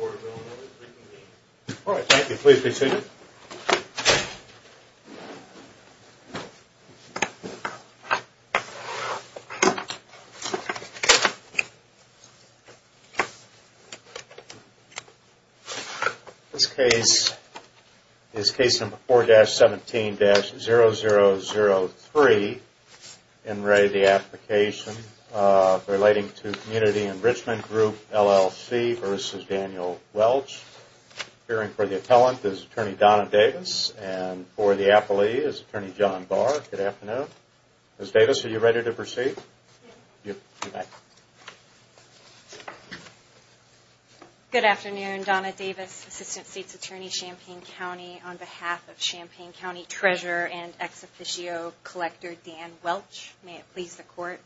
All right, thank you. Please be seated. This case is Case Number 4-17-0003. In re the application relating to Community Enrichment Group LLC versus Daniel Welch. Appearing for the appellant is Attorney Donna Davis and for the appellee is Attorney John Barr. Good afternoon. Ms. Davis, are you ready to proceed? Good afternoon. Donna Davis, Assistant State's Attorney, Champaign County, on behalf of Champaign County Treasurer and Ex Officio Collector Dan Welch. May it please the Court.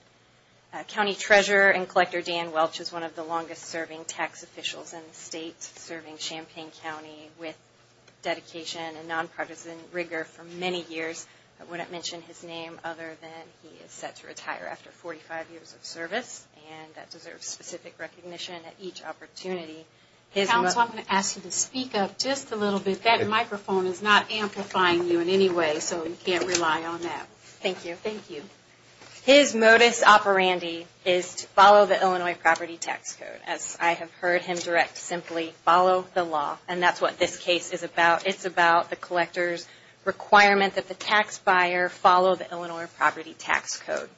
County Treasurer and Collector Dan Welch is one of the longest serving tax officials in the state, serving Champaign County with dedication and nonpartisan rigor for many years. I wouldn't mention his name other than he is set to retire after 45 years of service and that deserves specific recognition at each opportunity. Counsel, I'm going to ask you to speak up just a little bit. That microphone is not amplifying you in any way, so you can't rely on that. Thank you. His modus operandi is to follow the Illinois Property Tax Code. As I have heard him direct simply, follow the law. And that's what this case is about. It's about the collector's requirement that the tax buyer follow the Illinois Property Tax Code.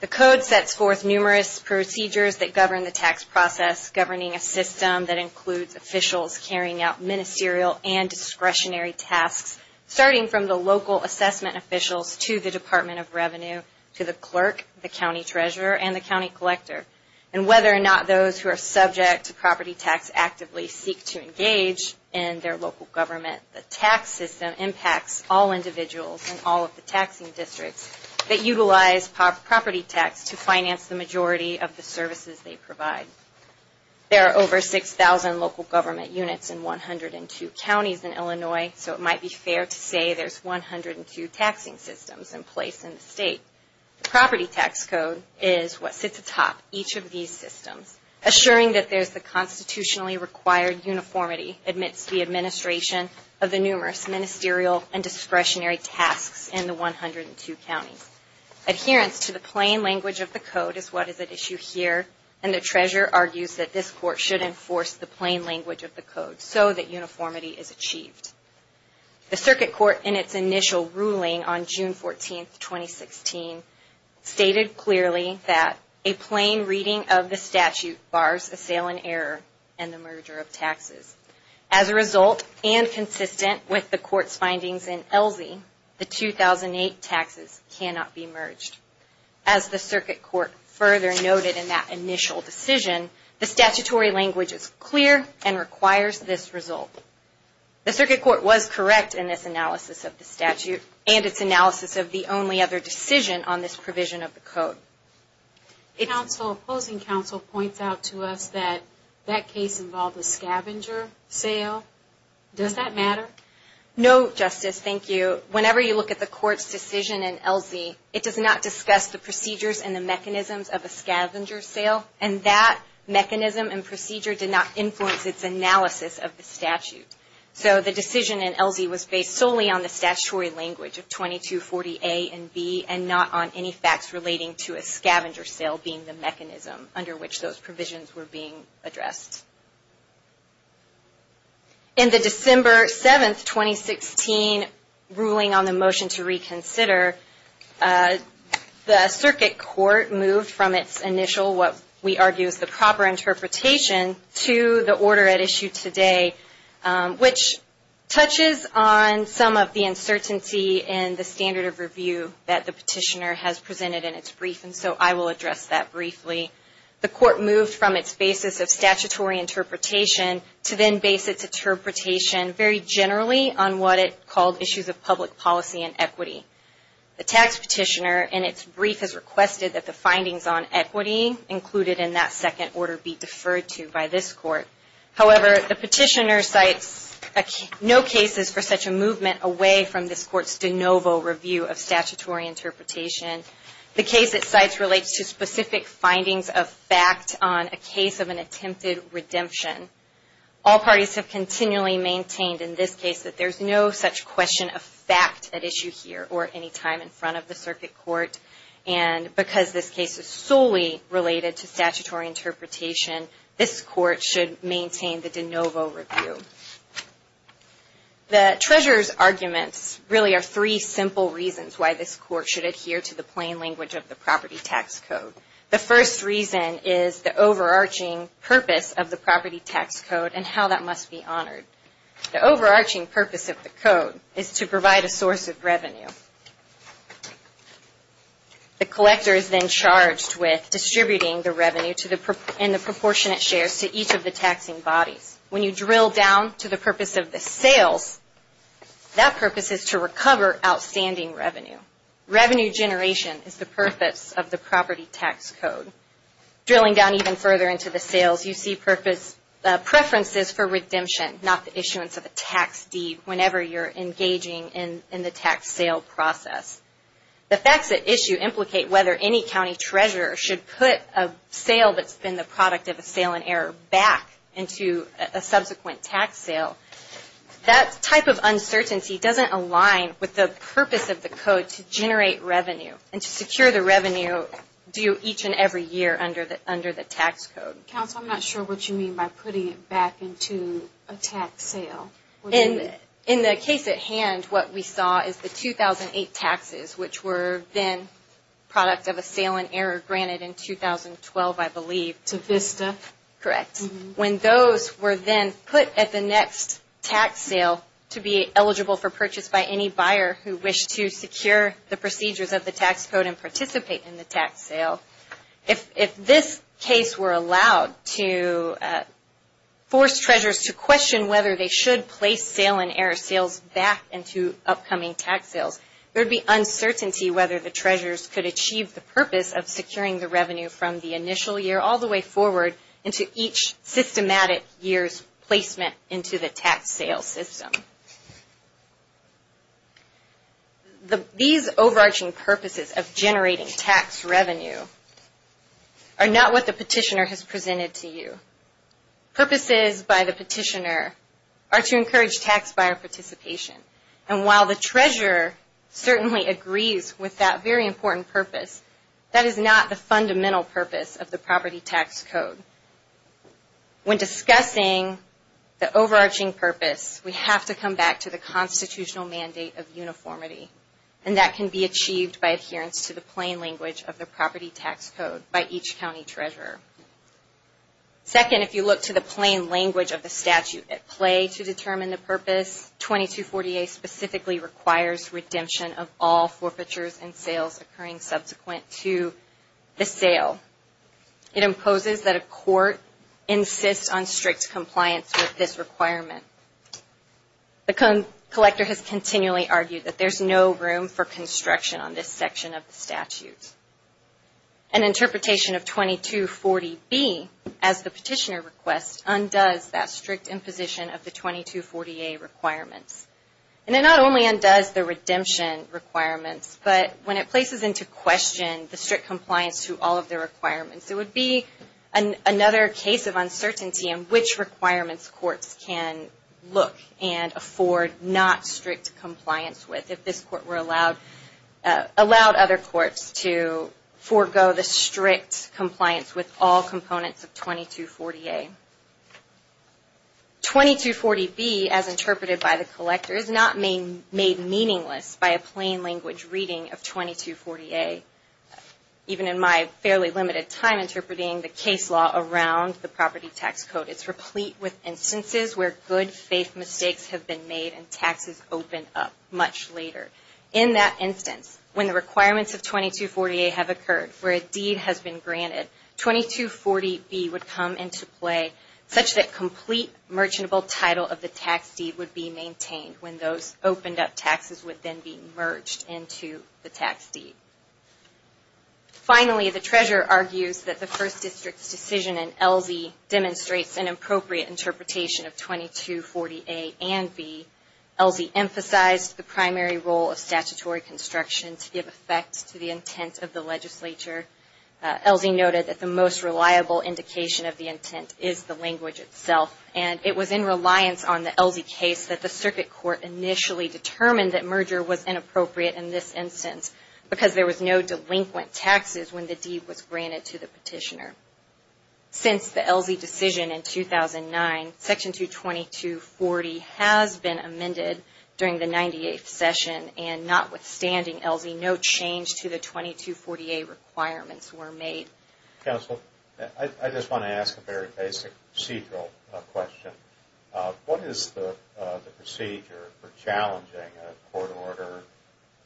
The code sets forth numerous procedures that govern the tax process, governing a system that from the local assessment officials to the Department of Revenue, to the clerk, the county treasurer, and the county collector, and whether or not those who are subject to property tax actively seek to engage in their local government. The tax system impacts all individuals in all of the taxing districts that utilize property tax to finance the majority of the services they provide. There are over 6,000 local government units in 102 counties in Illinois, so it might be fair to say there's 102 taxing systems in place in the state. The property tax code is what sits atop each of these systems, assuring that there's the constitutionally required uniformity amidst the administration of the numerous ministerial and discretionary tasks in the 102 counties. Adherence to the plain language of the code is what is at issue here, and the treasurer argues that this court should enforce the plain language of the code so that uniformity is achieved. The Circuit Court, in its initial ruling on June 14, 2016, stated clearly that a plain reading of the statute bars a sale in error and the merger of taxes. As a result, and consistent with the Court's findings in ELSI, the 2008 taxes cannot be merged. As the Circuit Court further noted in that initial decision, the statutory language is clear and requires this result. The Circuit Court was correct in its analysis of the statute and its analysis of the only other decision on this provision of the code. The opposing counsel points out to us that that case involved a scavenger sale. Does that matter? No, Justice, thank you. Whenever you look at the Court's decision in ELSI, it does not discuss the procedures and the mechanisms of a scavenger sale, and that mechanism and procedure did not influence its analysis of the statute. So the decision in ELSI was based solely on the statutory language of 2240A and B and not on any facts relating to a scavenger sale being the mechanism under which those provisions were being In the July 7, 2016, ruling on the motion to reconsider, the Circuit Court moved from its initial, what we argue is the proper interpretation, to the order at issue today, which touches on some of the uncertainty in the standard of review that the petitioner has presented in its brief, and so I will address that briefly. The Court moved from its basis of statutory interpretation to then base its interpretation very generally on what it called issues of public policy and equity. The tax petitioner in its brief has requested that the findings on equity included in that second order be deferred to by this Court. However, the petitioner cites no cases for such a movement away from this Court's de novo review of statutory interpretation. The case it cites relates to specific findings of fact on a case of an attempted redemption. All parties have continually maintained in this case that there's no such question of fact at issue here or any time in front of the Circuit Court, and because this case is solely related to statutory interpretation, this Court should maintain the de novo review. The treasurer's arguments really are three simple reasons why this Court should adhere to the plain language of the Property Tax Code. The first reason is the overarching purpose of the Property Tax Code and how that must be honored. The overarching purpose of the Code is to provide a source of revenue. The collector is then charged with distributing the revenue and the proportionate shares to each of the taxing bodies. When you drill down to the purpose of the sales, that purpose is to recover outstanding revenue. Revenue generation is the purpose of the Property Tax Code. Drilling down even further into the sales, you see preferences for redemption, not the issuance of a tax deed whenever you're engaging in the tax sale process. The facts at issue implicate whether any county treasurer should put a sale that's been the product of a sale in error back into a subsequent tax sale. That type of uncertainty doesn't align with the purpose of the Code to generate revenue and to secure the revenue due each and every year under the tax code. I'm not sure what you mean by putting it back into a tax sale. In the case at hand, what we saw is the 2008 taxes, which were then product of a sale in error granted in 2012, I believe. Correct. When those were then put at the next tax sale to be eligible for purchase by any buyer who wished to secure the procedures of the tax code and participate in the tax sale, if this case were allowed to force treasurers to question whether they should place sale in error sales back into upcoming tax sales, there would be uncertainty whether the treasurers could achieve the purpose of securing the revenue from the initial year all the way forward into each systematic year's placement into the tax sale system. These overarching purposes of generating tax revenue are not what the petitioner has presented to you. Purposes by the petitioner are to encourage tax buyer participation, and while the treasurer certainly agrees with that very important purpose, that is not the fundamental purpose of the property tax code. When discussing the overarching purpose, we have to come back to the constitutional mandate of uniformity, and that can be achieved by adherence to the plain language of the property tax code by each county treasurer. Second, if you look to the plain language of the statute at play to determine the purpose, 2248 specifically requires redemption of all forfeitures and sales occurring subsequent to the sale. It imposes that a court insists on strict compliance with this requirement. The collector has continually argued that there is no room for construction on this section of the statute. An interpretation of 2240B as the petitioner requests undoes that strict imposition of the 2248 requirements. And it not only undoes the redemption requirements, but when it places into question the strict compliance to all of the requirements, it would be another case of uncertainty in which requirements courts can look and afford not strict compliance with if this court were allowed other courts to forego the strict compliance with all components of 2240A. 2240B, as interpreted by the collector, is not made meaningless by a plain language reading of 2240A. Even in my fairly limited time interpreting the case law around the property tax code, it's replete with instances where good faith mistakes have been made and taxes open up much later. In that instance, when the requirements of 2240A have occurred, where a deed has been granted, 2240B would come into play such that complete merchantable title of the tax deed would be maintained when those opened up taxes would then be merged into the tax deed. Finally, the treasurer argues that the First District's decision in LZ demonstrates an appropriate interpretation of 2240A and B. LZ emphasized the primary role of statutory construction to give effect to the intent of the legislature. LZ noted that the most reliable indication of the intent is the language itself, and it was in reliance on the LZ case that the circuit court initially determined that merger was inappropriate in this instance because there was no delinquent taxes when the deed was granted to the petitioner. Since the LZ decision in 2009, Section 2240 has been amended during the 98th session and notwithstanding LZ, no change to the 2240A requirements were made. Counsel, I just want to ask a very basic procedural question. What is the procedure for challenging a court order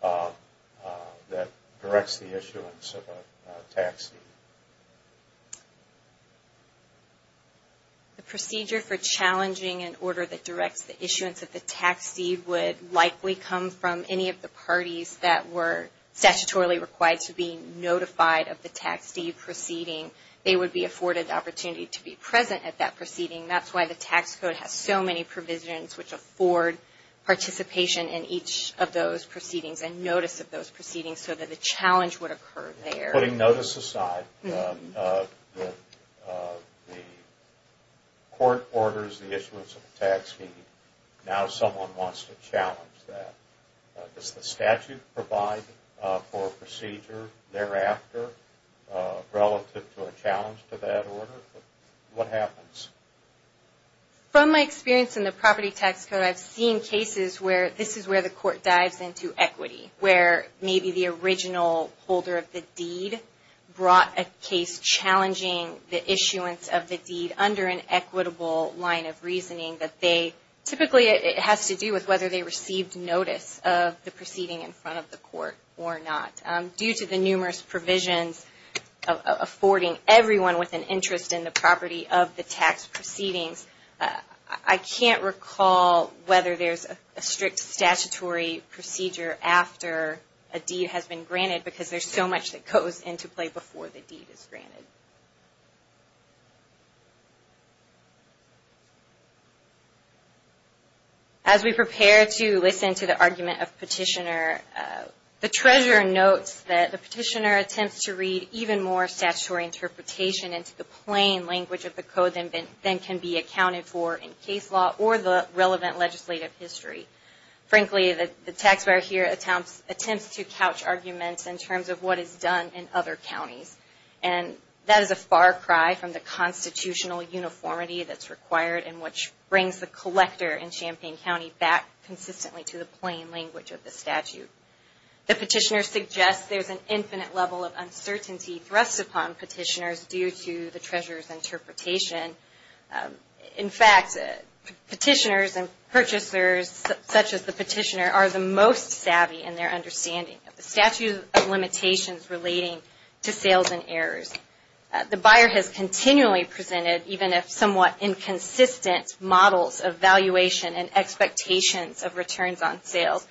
that directs the issuance of a tax deed? The procedure for challenging an order that directs the issuance of the tax deed would likely come from any of the parties that were statutorily required to be notified of the tax deed proceeding. They would be afforded the opportunity to be present at that proceeding. That's why the tax code has so many provisions which afford participation in each of those cases. The court orders the issuance of a tax deed. Now someone wants to challenge that. Does the statute provide for a procedure thereafter relative to a challenge to that order? What happens? From my experience in the property tax code, I've seen cases where this is where the court dives into equity, where maybe the original holder of the deed brought a case challenging the issuance of the deed under an equitable line of reasoning. Typically it has to do with whether they received notice of the proceeding in front of the court or not. Due to the numerous provisions affording everyone with an interest in the property of the tax proceedings, I can't recall whether there's a strict statutory procedure after a deed has been granted because there's so much that goes into play before the deed is granted. As we prepare to listen to the argument of petitioner, the treasurer notes that the petitioner attempts to read even more statutory interpretation into the plain language of the code than can be accounted for in case law or the relevant legislative history. Frankly, the tax buyer here attempts to couch arguments in terms of what is done in other counties. That is a far cry from the constitutional uniformity that's required and which brings the collector in Champaign County back consistently to the plain language of the statute. The petitioner suggests there's an infinite level of uncertainty thrust upon petitioners due to the treasurer's interpretation. In fact, petitioners and purchasers such as the petitioner are the most savvy in their understanding of the statute of limitations relating to sales and errors. The buyer has continually presented even if somewhat inconsistent models of valuation and expectations of returns on sales.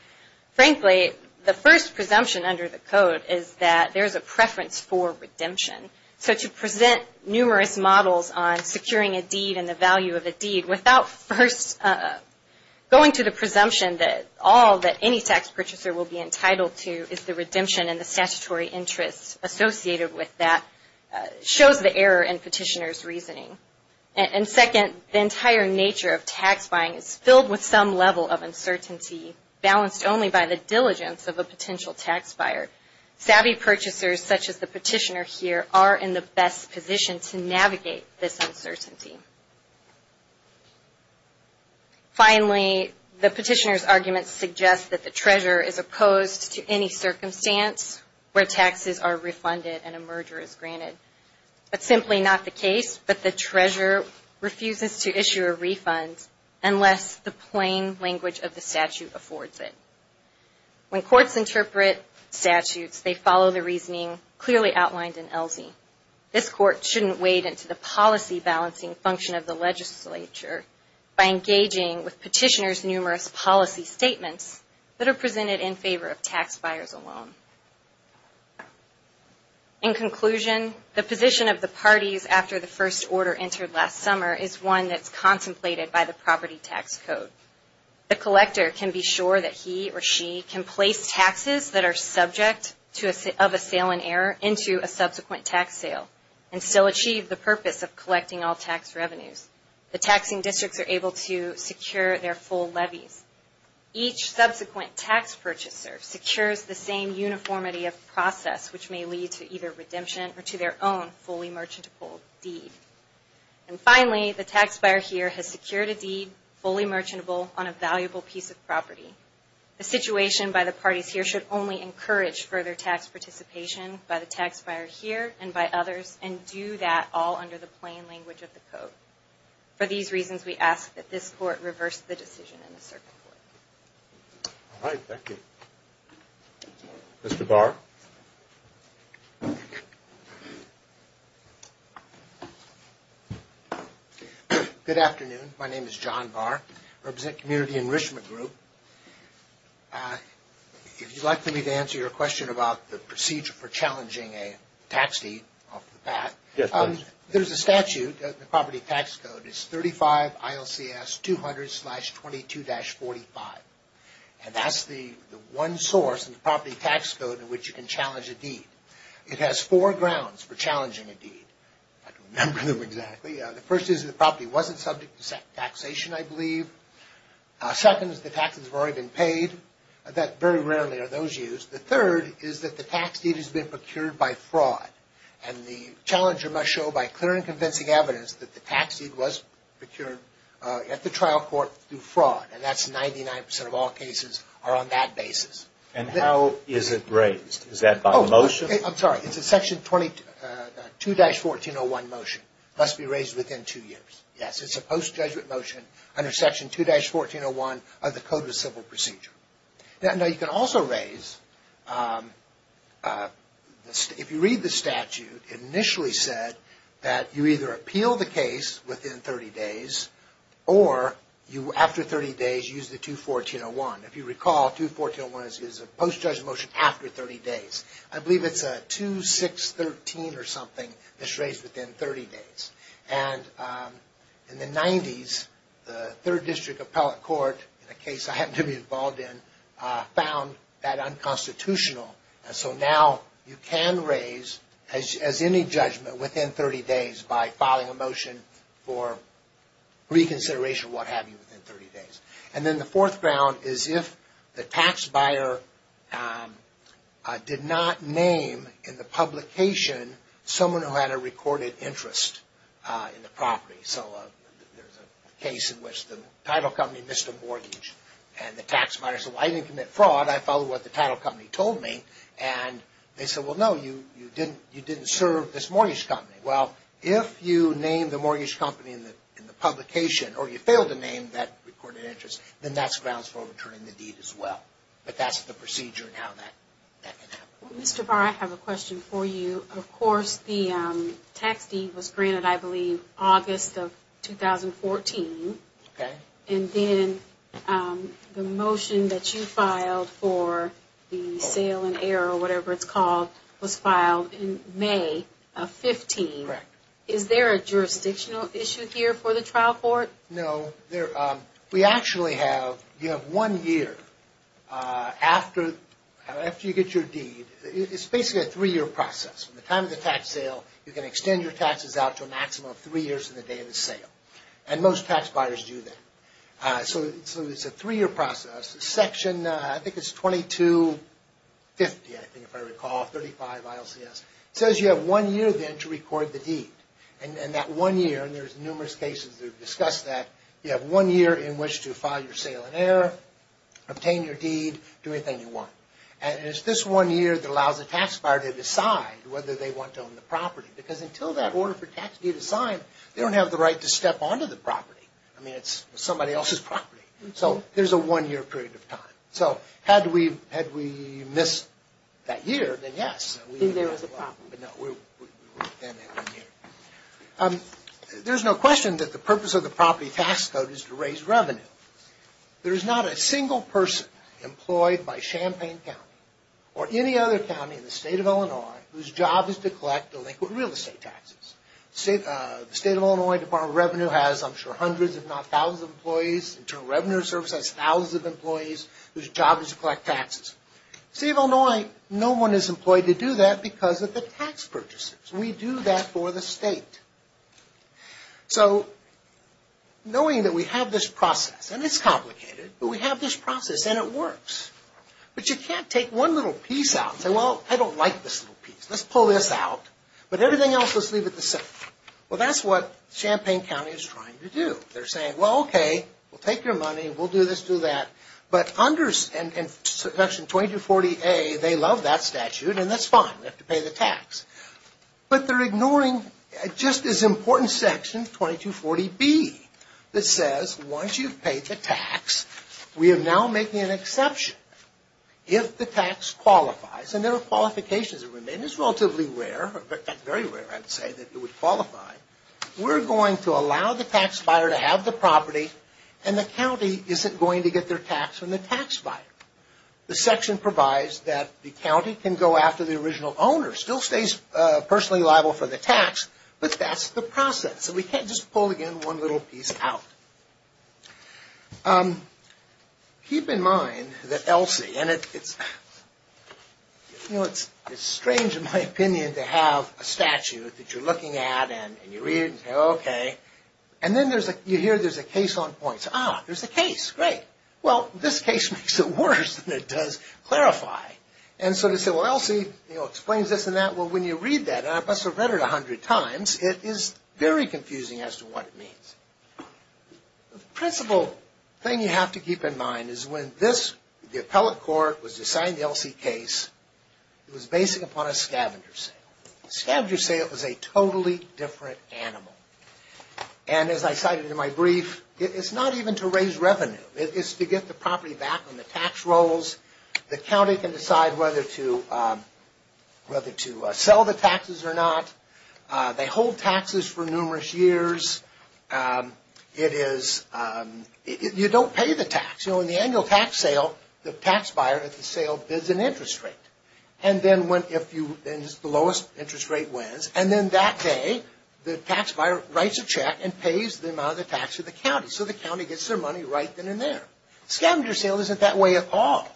Frankly, the first presumption under the code is that there's a preference for redemption. So to present numerous models on securing a deed and the value of a deed without first going to the presumption that all that any tax purchaser will be entitled to is the redemption and the statutory interests associated with that shows the error in petitioner's reasoning. And second, the entire nature of tax buying is filled with some level of uncertainty balanced only by the diligence of a potential tax buyer. Savvy purchasers such as the petitioner here are in the best position to navigate this uncertainty. Finally, the petitioner's arguments suggest that the treasurer is opposed to any circumstance where taxes are refunded and a merger is granted. That's simply not the case, but the treasurer refuses to issue a refund unless the plain language of the statute affords it. When courts interpret statutes, they follow the reasoning clearly outlined in ELSI. This court shouldn't wade into the policy balancing function of the legislature by tax buyers alone. In conclusion, the position of the parties after the first order entered last summer is one that's contemplated by the property tax code. The collector can be sure that he or she can place taxes that are subject of a sale in error into a subsequent tax sale and still achieve the purpose of collecting all tax revenues. The taxing districts are able to secure their full levies. Each subsequent tax purchaser secures the same uniformity of process, which may lead to either redemption or to their own fully merchantable deed. And finally, the tax buyer here has secured a deed fully merchantable on a valuable piece of property. The situation by the parties here should only encourage further tax participation by the tax buyer here and by others and do that all under the plain language of the code. For these reasons, we ask that this court reverse the decision in the circuit court. Mr. Barr. Good afternoon. My name is John Barr. I represent Community Enrichment Group. If you'd like for me to answer your question about the procedure for challenging a tax deed off the bat, there's a statute in the property tax code. It's 35 ILCS 200-22-45. And that's the one source in the property tax code in which you can challenge a deed. It has four grounds for challenging a deed. I don't remember them exactly. The first is the property wasn't subject to taxation, I believe. Second is the taxes have already been paid. Very rarely are those used. The third is that the tax deed has been procured by fraud. And the challenger must show by clear and convincing evidence that the tax deed was procured at the trial court through fraud. And that's 99 percent of all cases are on that basis. And how is it raised? Is that by motion? It's a Section 2-1401 motion. It must be raised within two years. Yes, it's a post-judgment motion under Section 2-1401 of the Code of Civil Procedure. You can also raise, if you read the statute, it initially said that you either appeal the case within 30 days or, after 30 days, use the 2-1401. If you recall, 2-1401 is a post-judgment motion after 30 days. I believe it's a 2-613 or something that's raised within 30 days. And in the 90s, the 3rd District Appellate Court, a case I happened to be involved in, found that unconstitutional. And so now you can raise, as any judgment, within 30 days by filing a motion for reconsideration or what have you within 30 days. And then the 4th ground is if the tax buyer did not name in the publication someone who had a recorded interest in the property. So there's a case in which the title company missed a mortgage and the tax buyer said, well, I didn't commit fraud. I followed what the title company told me. And they said, well, no, you didn't serve this mortgage company. Well, if you name the mortgage company in the publication or you fail to name that recorded interest, then that's grounds for returning the deed as well. But that's the procedure and how that can happen. Well, Mr. Barr, I have a question for you. Of course, the tax deed was granted, I believe, in August of 2014. Okay. And then the motion that you filed for the sale in error, or whatever it's called, was filed in May of 15. Correct. Is there a jurisdictional issue here for the trial court? No. We actually have, you have one year after you get your deed. It's basically a three-year process. From the time of the tax sale, you can extend your taxes out to a maximum of three years from the day of the sale. And most tax buyers do that. So it's a three-year process. Section, I think it's 2250, I think, if I recall, 35 ILCS. It says you have one year then to record the deed. And that one year, and there's numerous cases that have discussed that, you have one year in which to file your sale in error, obtain your deed, do anything you want. And it's this one year that allows the tax buyer to decide whether they want to own the property. Because until that order for tax deed is signed, they don't have the right to step onto the property. I mean, it's somebody else's property. So there's a one-year period of time. So had we missed that year, then yes. Then there was a problem. There's no question that the purpose of the property tax code is to raise revenue. There is not a single person employed by Champaign County or any other county in the state of Illinois whose job is to collect delinquent real estate taxes. The state of Illinois Department of Revenue has, I'm sure, hundreds if not thousands of employees. Internal Revenue Service has thousands of employees whose job is to collect tax purchases. We do that for the state. So knowing that we have this process, and it's complicated, but we have this process and it works. But you can't take one little piece out and say, well, I don't like this little piece. Let's pull this out. But everything else, let's leave it the same. Well, that's what Champaign County is trying to do. They're saying, well, okay, we'll take your money. We'll do this, do that. But under Section 2240A, they love that statute, and that's fine. We have to pay the tax. But they're ignoring just as important Section 2240B that says once you've paid the tax, we are now making an exception if the tax qualifies. And there are qualifications that remain. It's relatively rare. In fact, very rare, I would say, that it would qualify. We're going to allow the tax property, and the county isn't going to get their tax from the tax buyer. The section provides that the county can go after the original owner. Still stays personally liable for the tax, but that's the process. So we can't just pull, again, one little piece out. Keep in mind that ELSI, and it's strange, in my opinion, to have a statute that you're looking at and you read it and say, okay. And then you hear there's a case on points. Ah, there's a case. Great. Well, this case makes it worse than it does clarify. And so they say, well, ELSI explains this and that. Well, when you read that, and I've read it a hundred times, it is very confusing as to what it means. The principal thing you have to keep in mind is when the appellate court was based upon a scavenger sale. A scavenger sale is a totally different animal. And as I cited in my brief, it's not even to raise revenue. It's to get the property back on the tax rolls. The county can decide whether to sell the taxes or not. They hold taxes for numerous years. You don't pay the tax. So in the annual tax sale, the tax buyer at the sale bids an interest rate. And the lowest interest rate wins. And then that day, the tax buyer writes a check and pays the amount of the tax to the county. So the county gets their money right then and there. Scavenger sale isn't that way at all.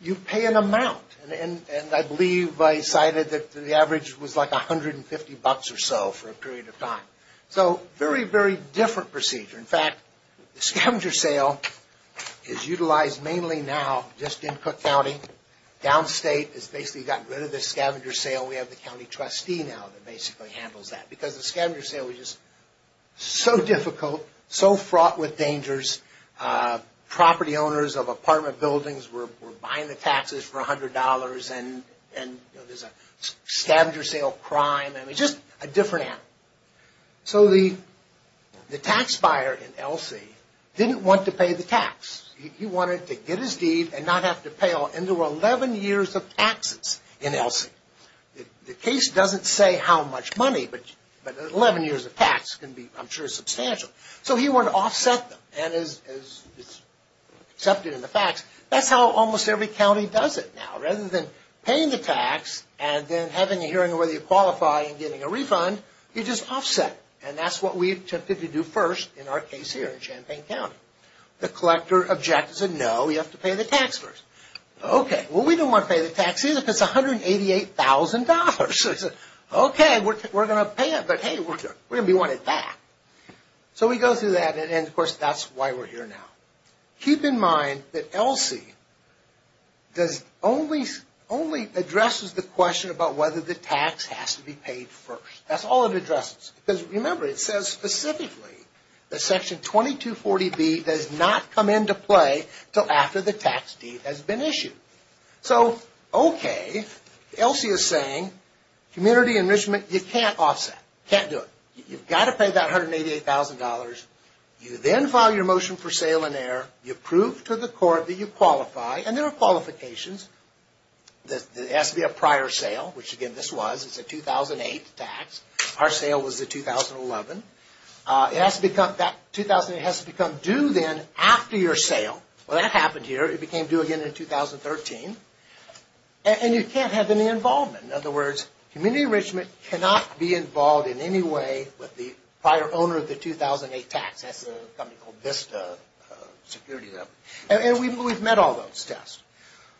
You pay an amount. And I believe I cited that the average was like 150 bucks or so for a period of time. So very, very different procedure. In fact, the scavenger sale is utilized mainly now just in Cook County. Downstate has basically gotten rid of the scavenger sale. We have the county trustee now that basically handles that. Because the scavenger sale was just so difficult, so fraught with dangers. Property owners of apartment buildings were buying the taxes for $100. And there's a scavenger sale crime. Just a different animal. So the tax buyer in Elsie didn't want to pay the tax. He wanted to get his deed and not have to pay. And there were 11 years of taxes in Elsie. The case doesn't say how much money, but 11 years of tax can be, I'm sure, substantial. So he wanted to offset them. And as is accepted in the facts, that's how almost every county does it now. Rather than paying the tax and then having a hearing on whether you qualify and getting a refund, you just offset it. And that's what we attempted to do first in our case here in Champaign County. The collector objected and said, no, you have to pay the tax first. Okay, well we don't want to pay the tax either because it's $188,000. Okay, we're going to offset it. We want it back. So we go through that, and of course that's why we're here now. Keep in mind that Elsie only addresses the question about whether the tax has to be paid first. That's all it addresses. Because remember, it says specifically that Section 2240B does not come into play until after the tax deed has been issued. So okay, Elsie is saying, community enrichment, you can't offset. You can't do it. You've got to pay that $188,000. You then file your motion for sale and error. You prove to the court that you qualify. And there are qualifications. It has to be a prior sale, which again this was. It's a 2008 tax. Our sale was the 2011. That 2008 has to become due then after your sale. Well that happened here. It became due again in 2013. And you can't have any involvement. In other words, community enrichment cannot be involved in any way with the prior owner of the 2008 tax. That's a company called Vista Security. And we've met all those tests.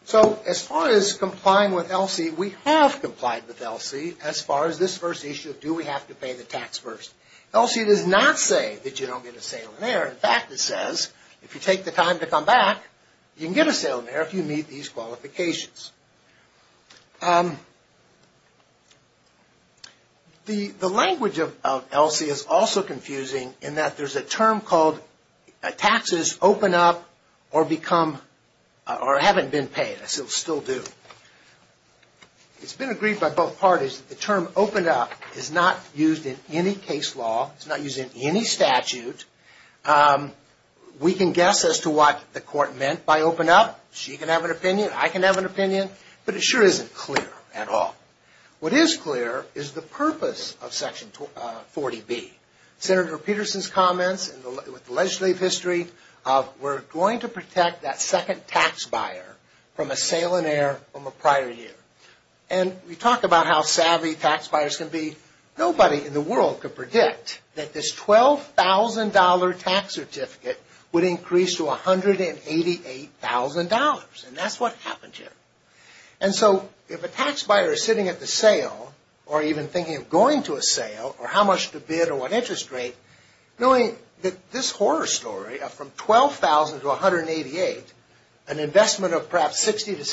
So as far as complying with Elsie, we have complied with Elsie as far as this first issue of do we have to pay the tax first. Elsie does not say that you don't get a sale and error. In fact, it says if you take the time to come back, you can get a sale and error if you meet these qualifications. The language of Elsie is also confusing in that there's a term called taxes open up or become or haven't been paid. I still do. It's been agreed by both parties that the term open up is not used in any case law. It's not used in any statute. We can guess as to what the court meant by open up. She can have an opinion. I can have an opinion. But it sure isn't clear at all. What is clear is the purpose of section 40B. Senator Peterson's comments with legislative history of we're going to protect that second tax buyer from a sale and error from a prior year. And we talk about how savvy tax buyers can be. Nobody in the world could predict that this $12,000 tax certificate would increase to $188,000. And that's what happened here. And so if a tax buyer is sitting at the sale or even thinking of going to a sale or how much to bid or what interest rate, knowing that this horror story of from $12,000 to $188,000, an investment of perhaps $60,000 to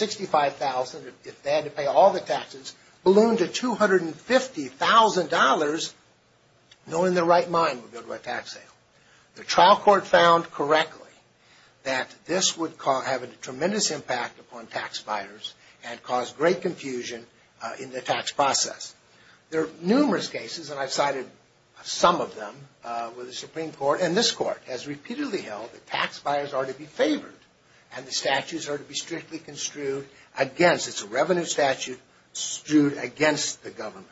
$65,000 if they had to pay all the taxes, ballooned to $250,000, knowing their right mind would go to a tax sale. The trial court found correctly that this would have a tremendous impact upon tax buyers and cause great confusion in the tax process. There are numerous cases, and I've cited some of them, where the Supreme Court and this Court has repeatedly held that tax buyers are to be favored and the statutes are to be strictly construed against. It's a revenue statute construed against the government.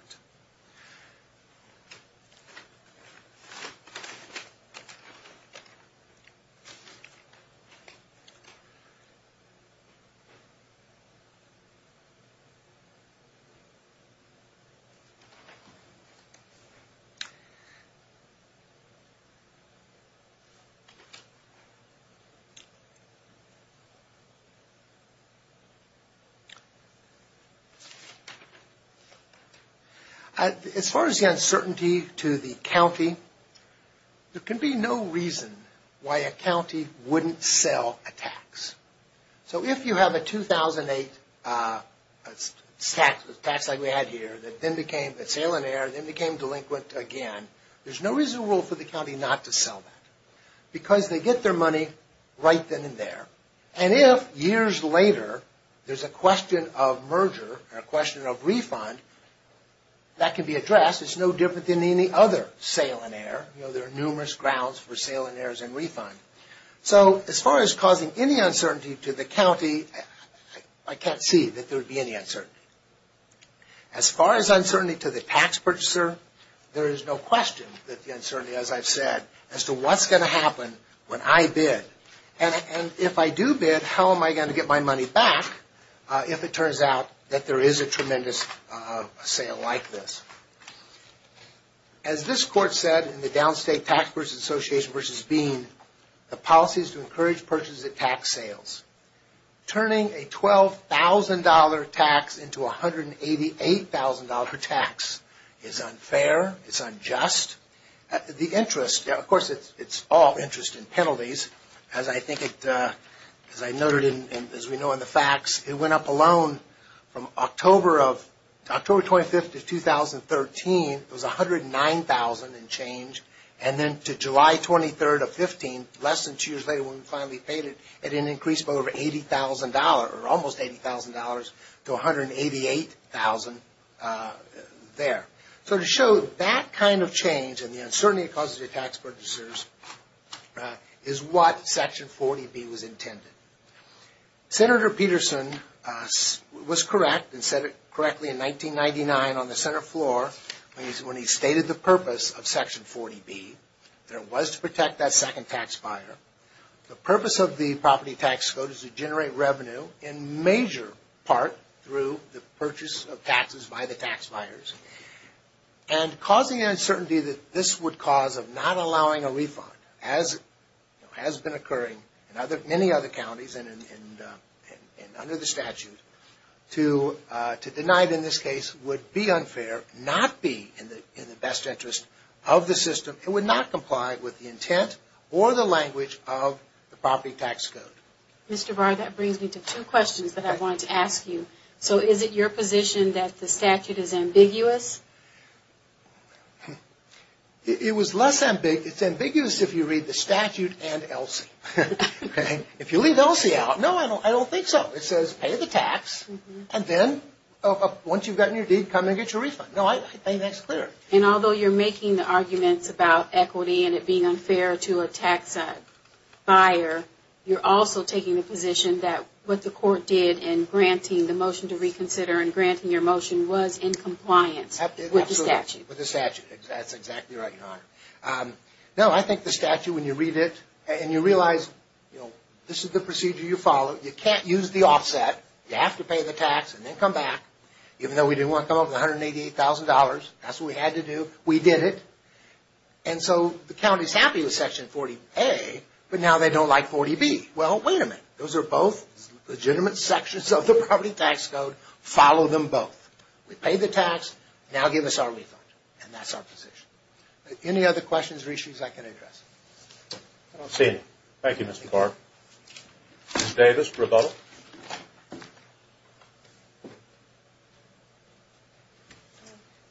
As far as the uncertainty to the county, there can be no reason why a county wouldn't sell a tax. So if you have a 2008 tax like we had here that then became a sale and error and then became delinquent again, there's no reason for the county not to sell that because they get their money right then and there. And if years later there's a question of merger or a question of refund, that can be addressed. It's no different than any other sale and error. There are numerous grounds for sale and errors and refund. So as far as causing any uncertainty to the county, I can't see that there would be any uncertainty. As far as uncertainty to the tax purchaser, there is no question that the uncertainty, as I've said, as to what's going to happen when I bid. And if I do bid, how am I going to get my money back if it turns out that there is a tremendous sale like this? As this court said in the Downstate Tax Purchaser Association v. Bean, the policy is to encourage purchase at tax sales. Turning a $12,000 tax into a $188,000 tax is unfair. It's unjust. The interest, of course, it's all interest and penalties. As I noted, as we know in the facts, it went up alone from October 25th of 2013 it was $109,000 in change, and then to July 23rd of 2015, less than two years later when we finally paid it, it increased by over $80,000 or almost $80,000 to $188,000 there. So to show that kind of change and the uncertainty it causes to tax purchasers is what Section 40B was intended. Senator Peterson was correct and said it correctly in 1999 on the Senate floor when he stated the purpose of Section 40B, that it was to protect that second tax buyer. The purpose of the property tax code is to generate revenue in major part through the purchase of taxes by the tax buyers. And causing an uncertainty that this would cause of not allowing a refund, as has been occurring in many other counties and under the statute, to deny it in this case would be unfair, not be in the best interest of the system. It would not comply with the intent or the language of the property tax code. Mr. Barr, that brings me to two questions that I wanted to ask you. So is it your position that the statute is ambiguous? It's ambiguous if you read the statute and ELSI. If you leave ELSI out, no, I don't think so. It says pay the tax, and then once you've gotten your deed, come and get your refund. No, I think that's clear. And although you're making the arguments about equity and it being unfair to a tax buyer, you're also taking the position that what the court did in granting the motion to reconsider and granting your motion was in compliance with the statute. That's exactly right, Your Honor. No, I think the statute, when you read it, and you realize this is the procedure you follow, you can't use the offset, you have to pay the tax and then come back, even though we didn't want to come up with $188,000. That's what we had to do. We did it. And so the county's happy with Section 40A, but now they don't like 40B. Well, wait a minute. Those are both legitimate sections of the property tax code. Follow them both. We paid the tax. Now give us our refund. And that's our position. Any other questions or issues I can address? I don't see any. Thank you, Mr. Clark. Ms. Davis, rebuttal.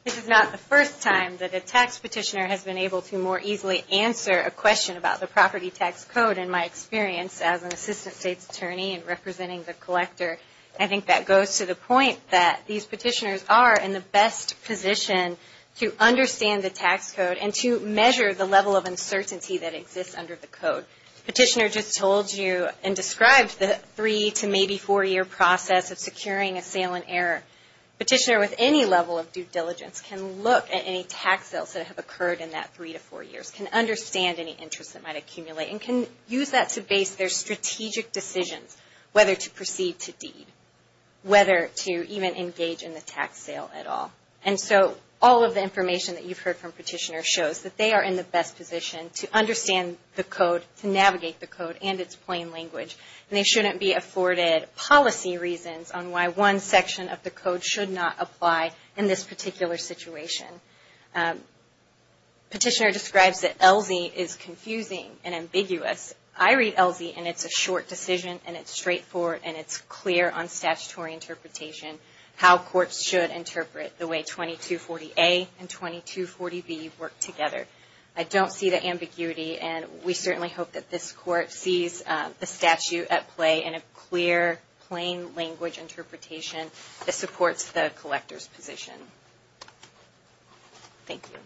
This is not the first time that a tax petitioner has been able to more easily answer a question about the property tax code, in my experience as an Assistant State's Attorney and representing the collector. I think that goes to the point that these petitioners are in the best position to understand the tax code and to measure the level of uncertainty that exists under the code. Petitioner just told you and described the three to maybe four-year process of securing a sale in error. Petitioner with any level of due diligence can look at any tax sales that have occurred in that three to four years, can understand any interest that might accumulate, and can use that to base their strategic decisions, whether to sell or not. And so all of the information that you've heard from petitioners shows that they are in the best position to understand the code, to navigate the code and its plain language. And they shouldn't be afforded policy reasons on why one section of the code should not apply in this particular situation. Petitioner describes that ELSI is confusing and ambiguous. I read ELSI and it's a short decision and it's straightforward and it's clear on statutory interpretation how courts should interpret the way 2240A and 2240B work together. I don't see the ambiguity and we certainly hope that this Court sees the statute at play and a clear, plain language interpretation that supports the collector's position. Thank you. Thank you.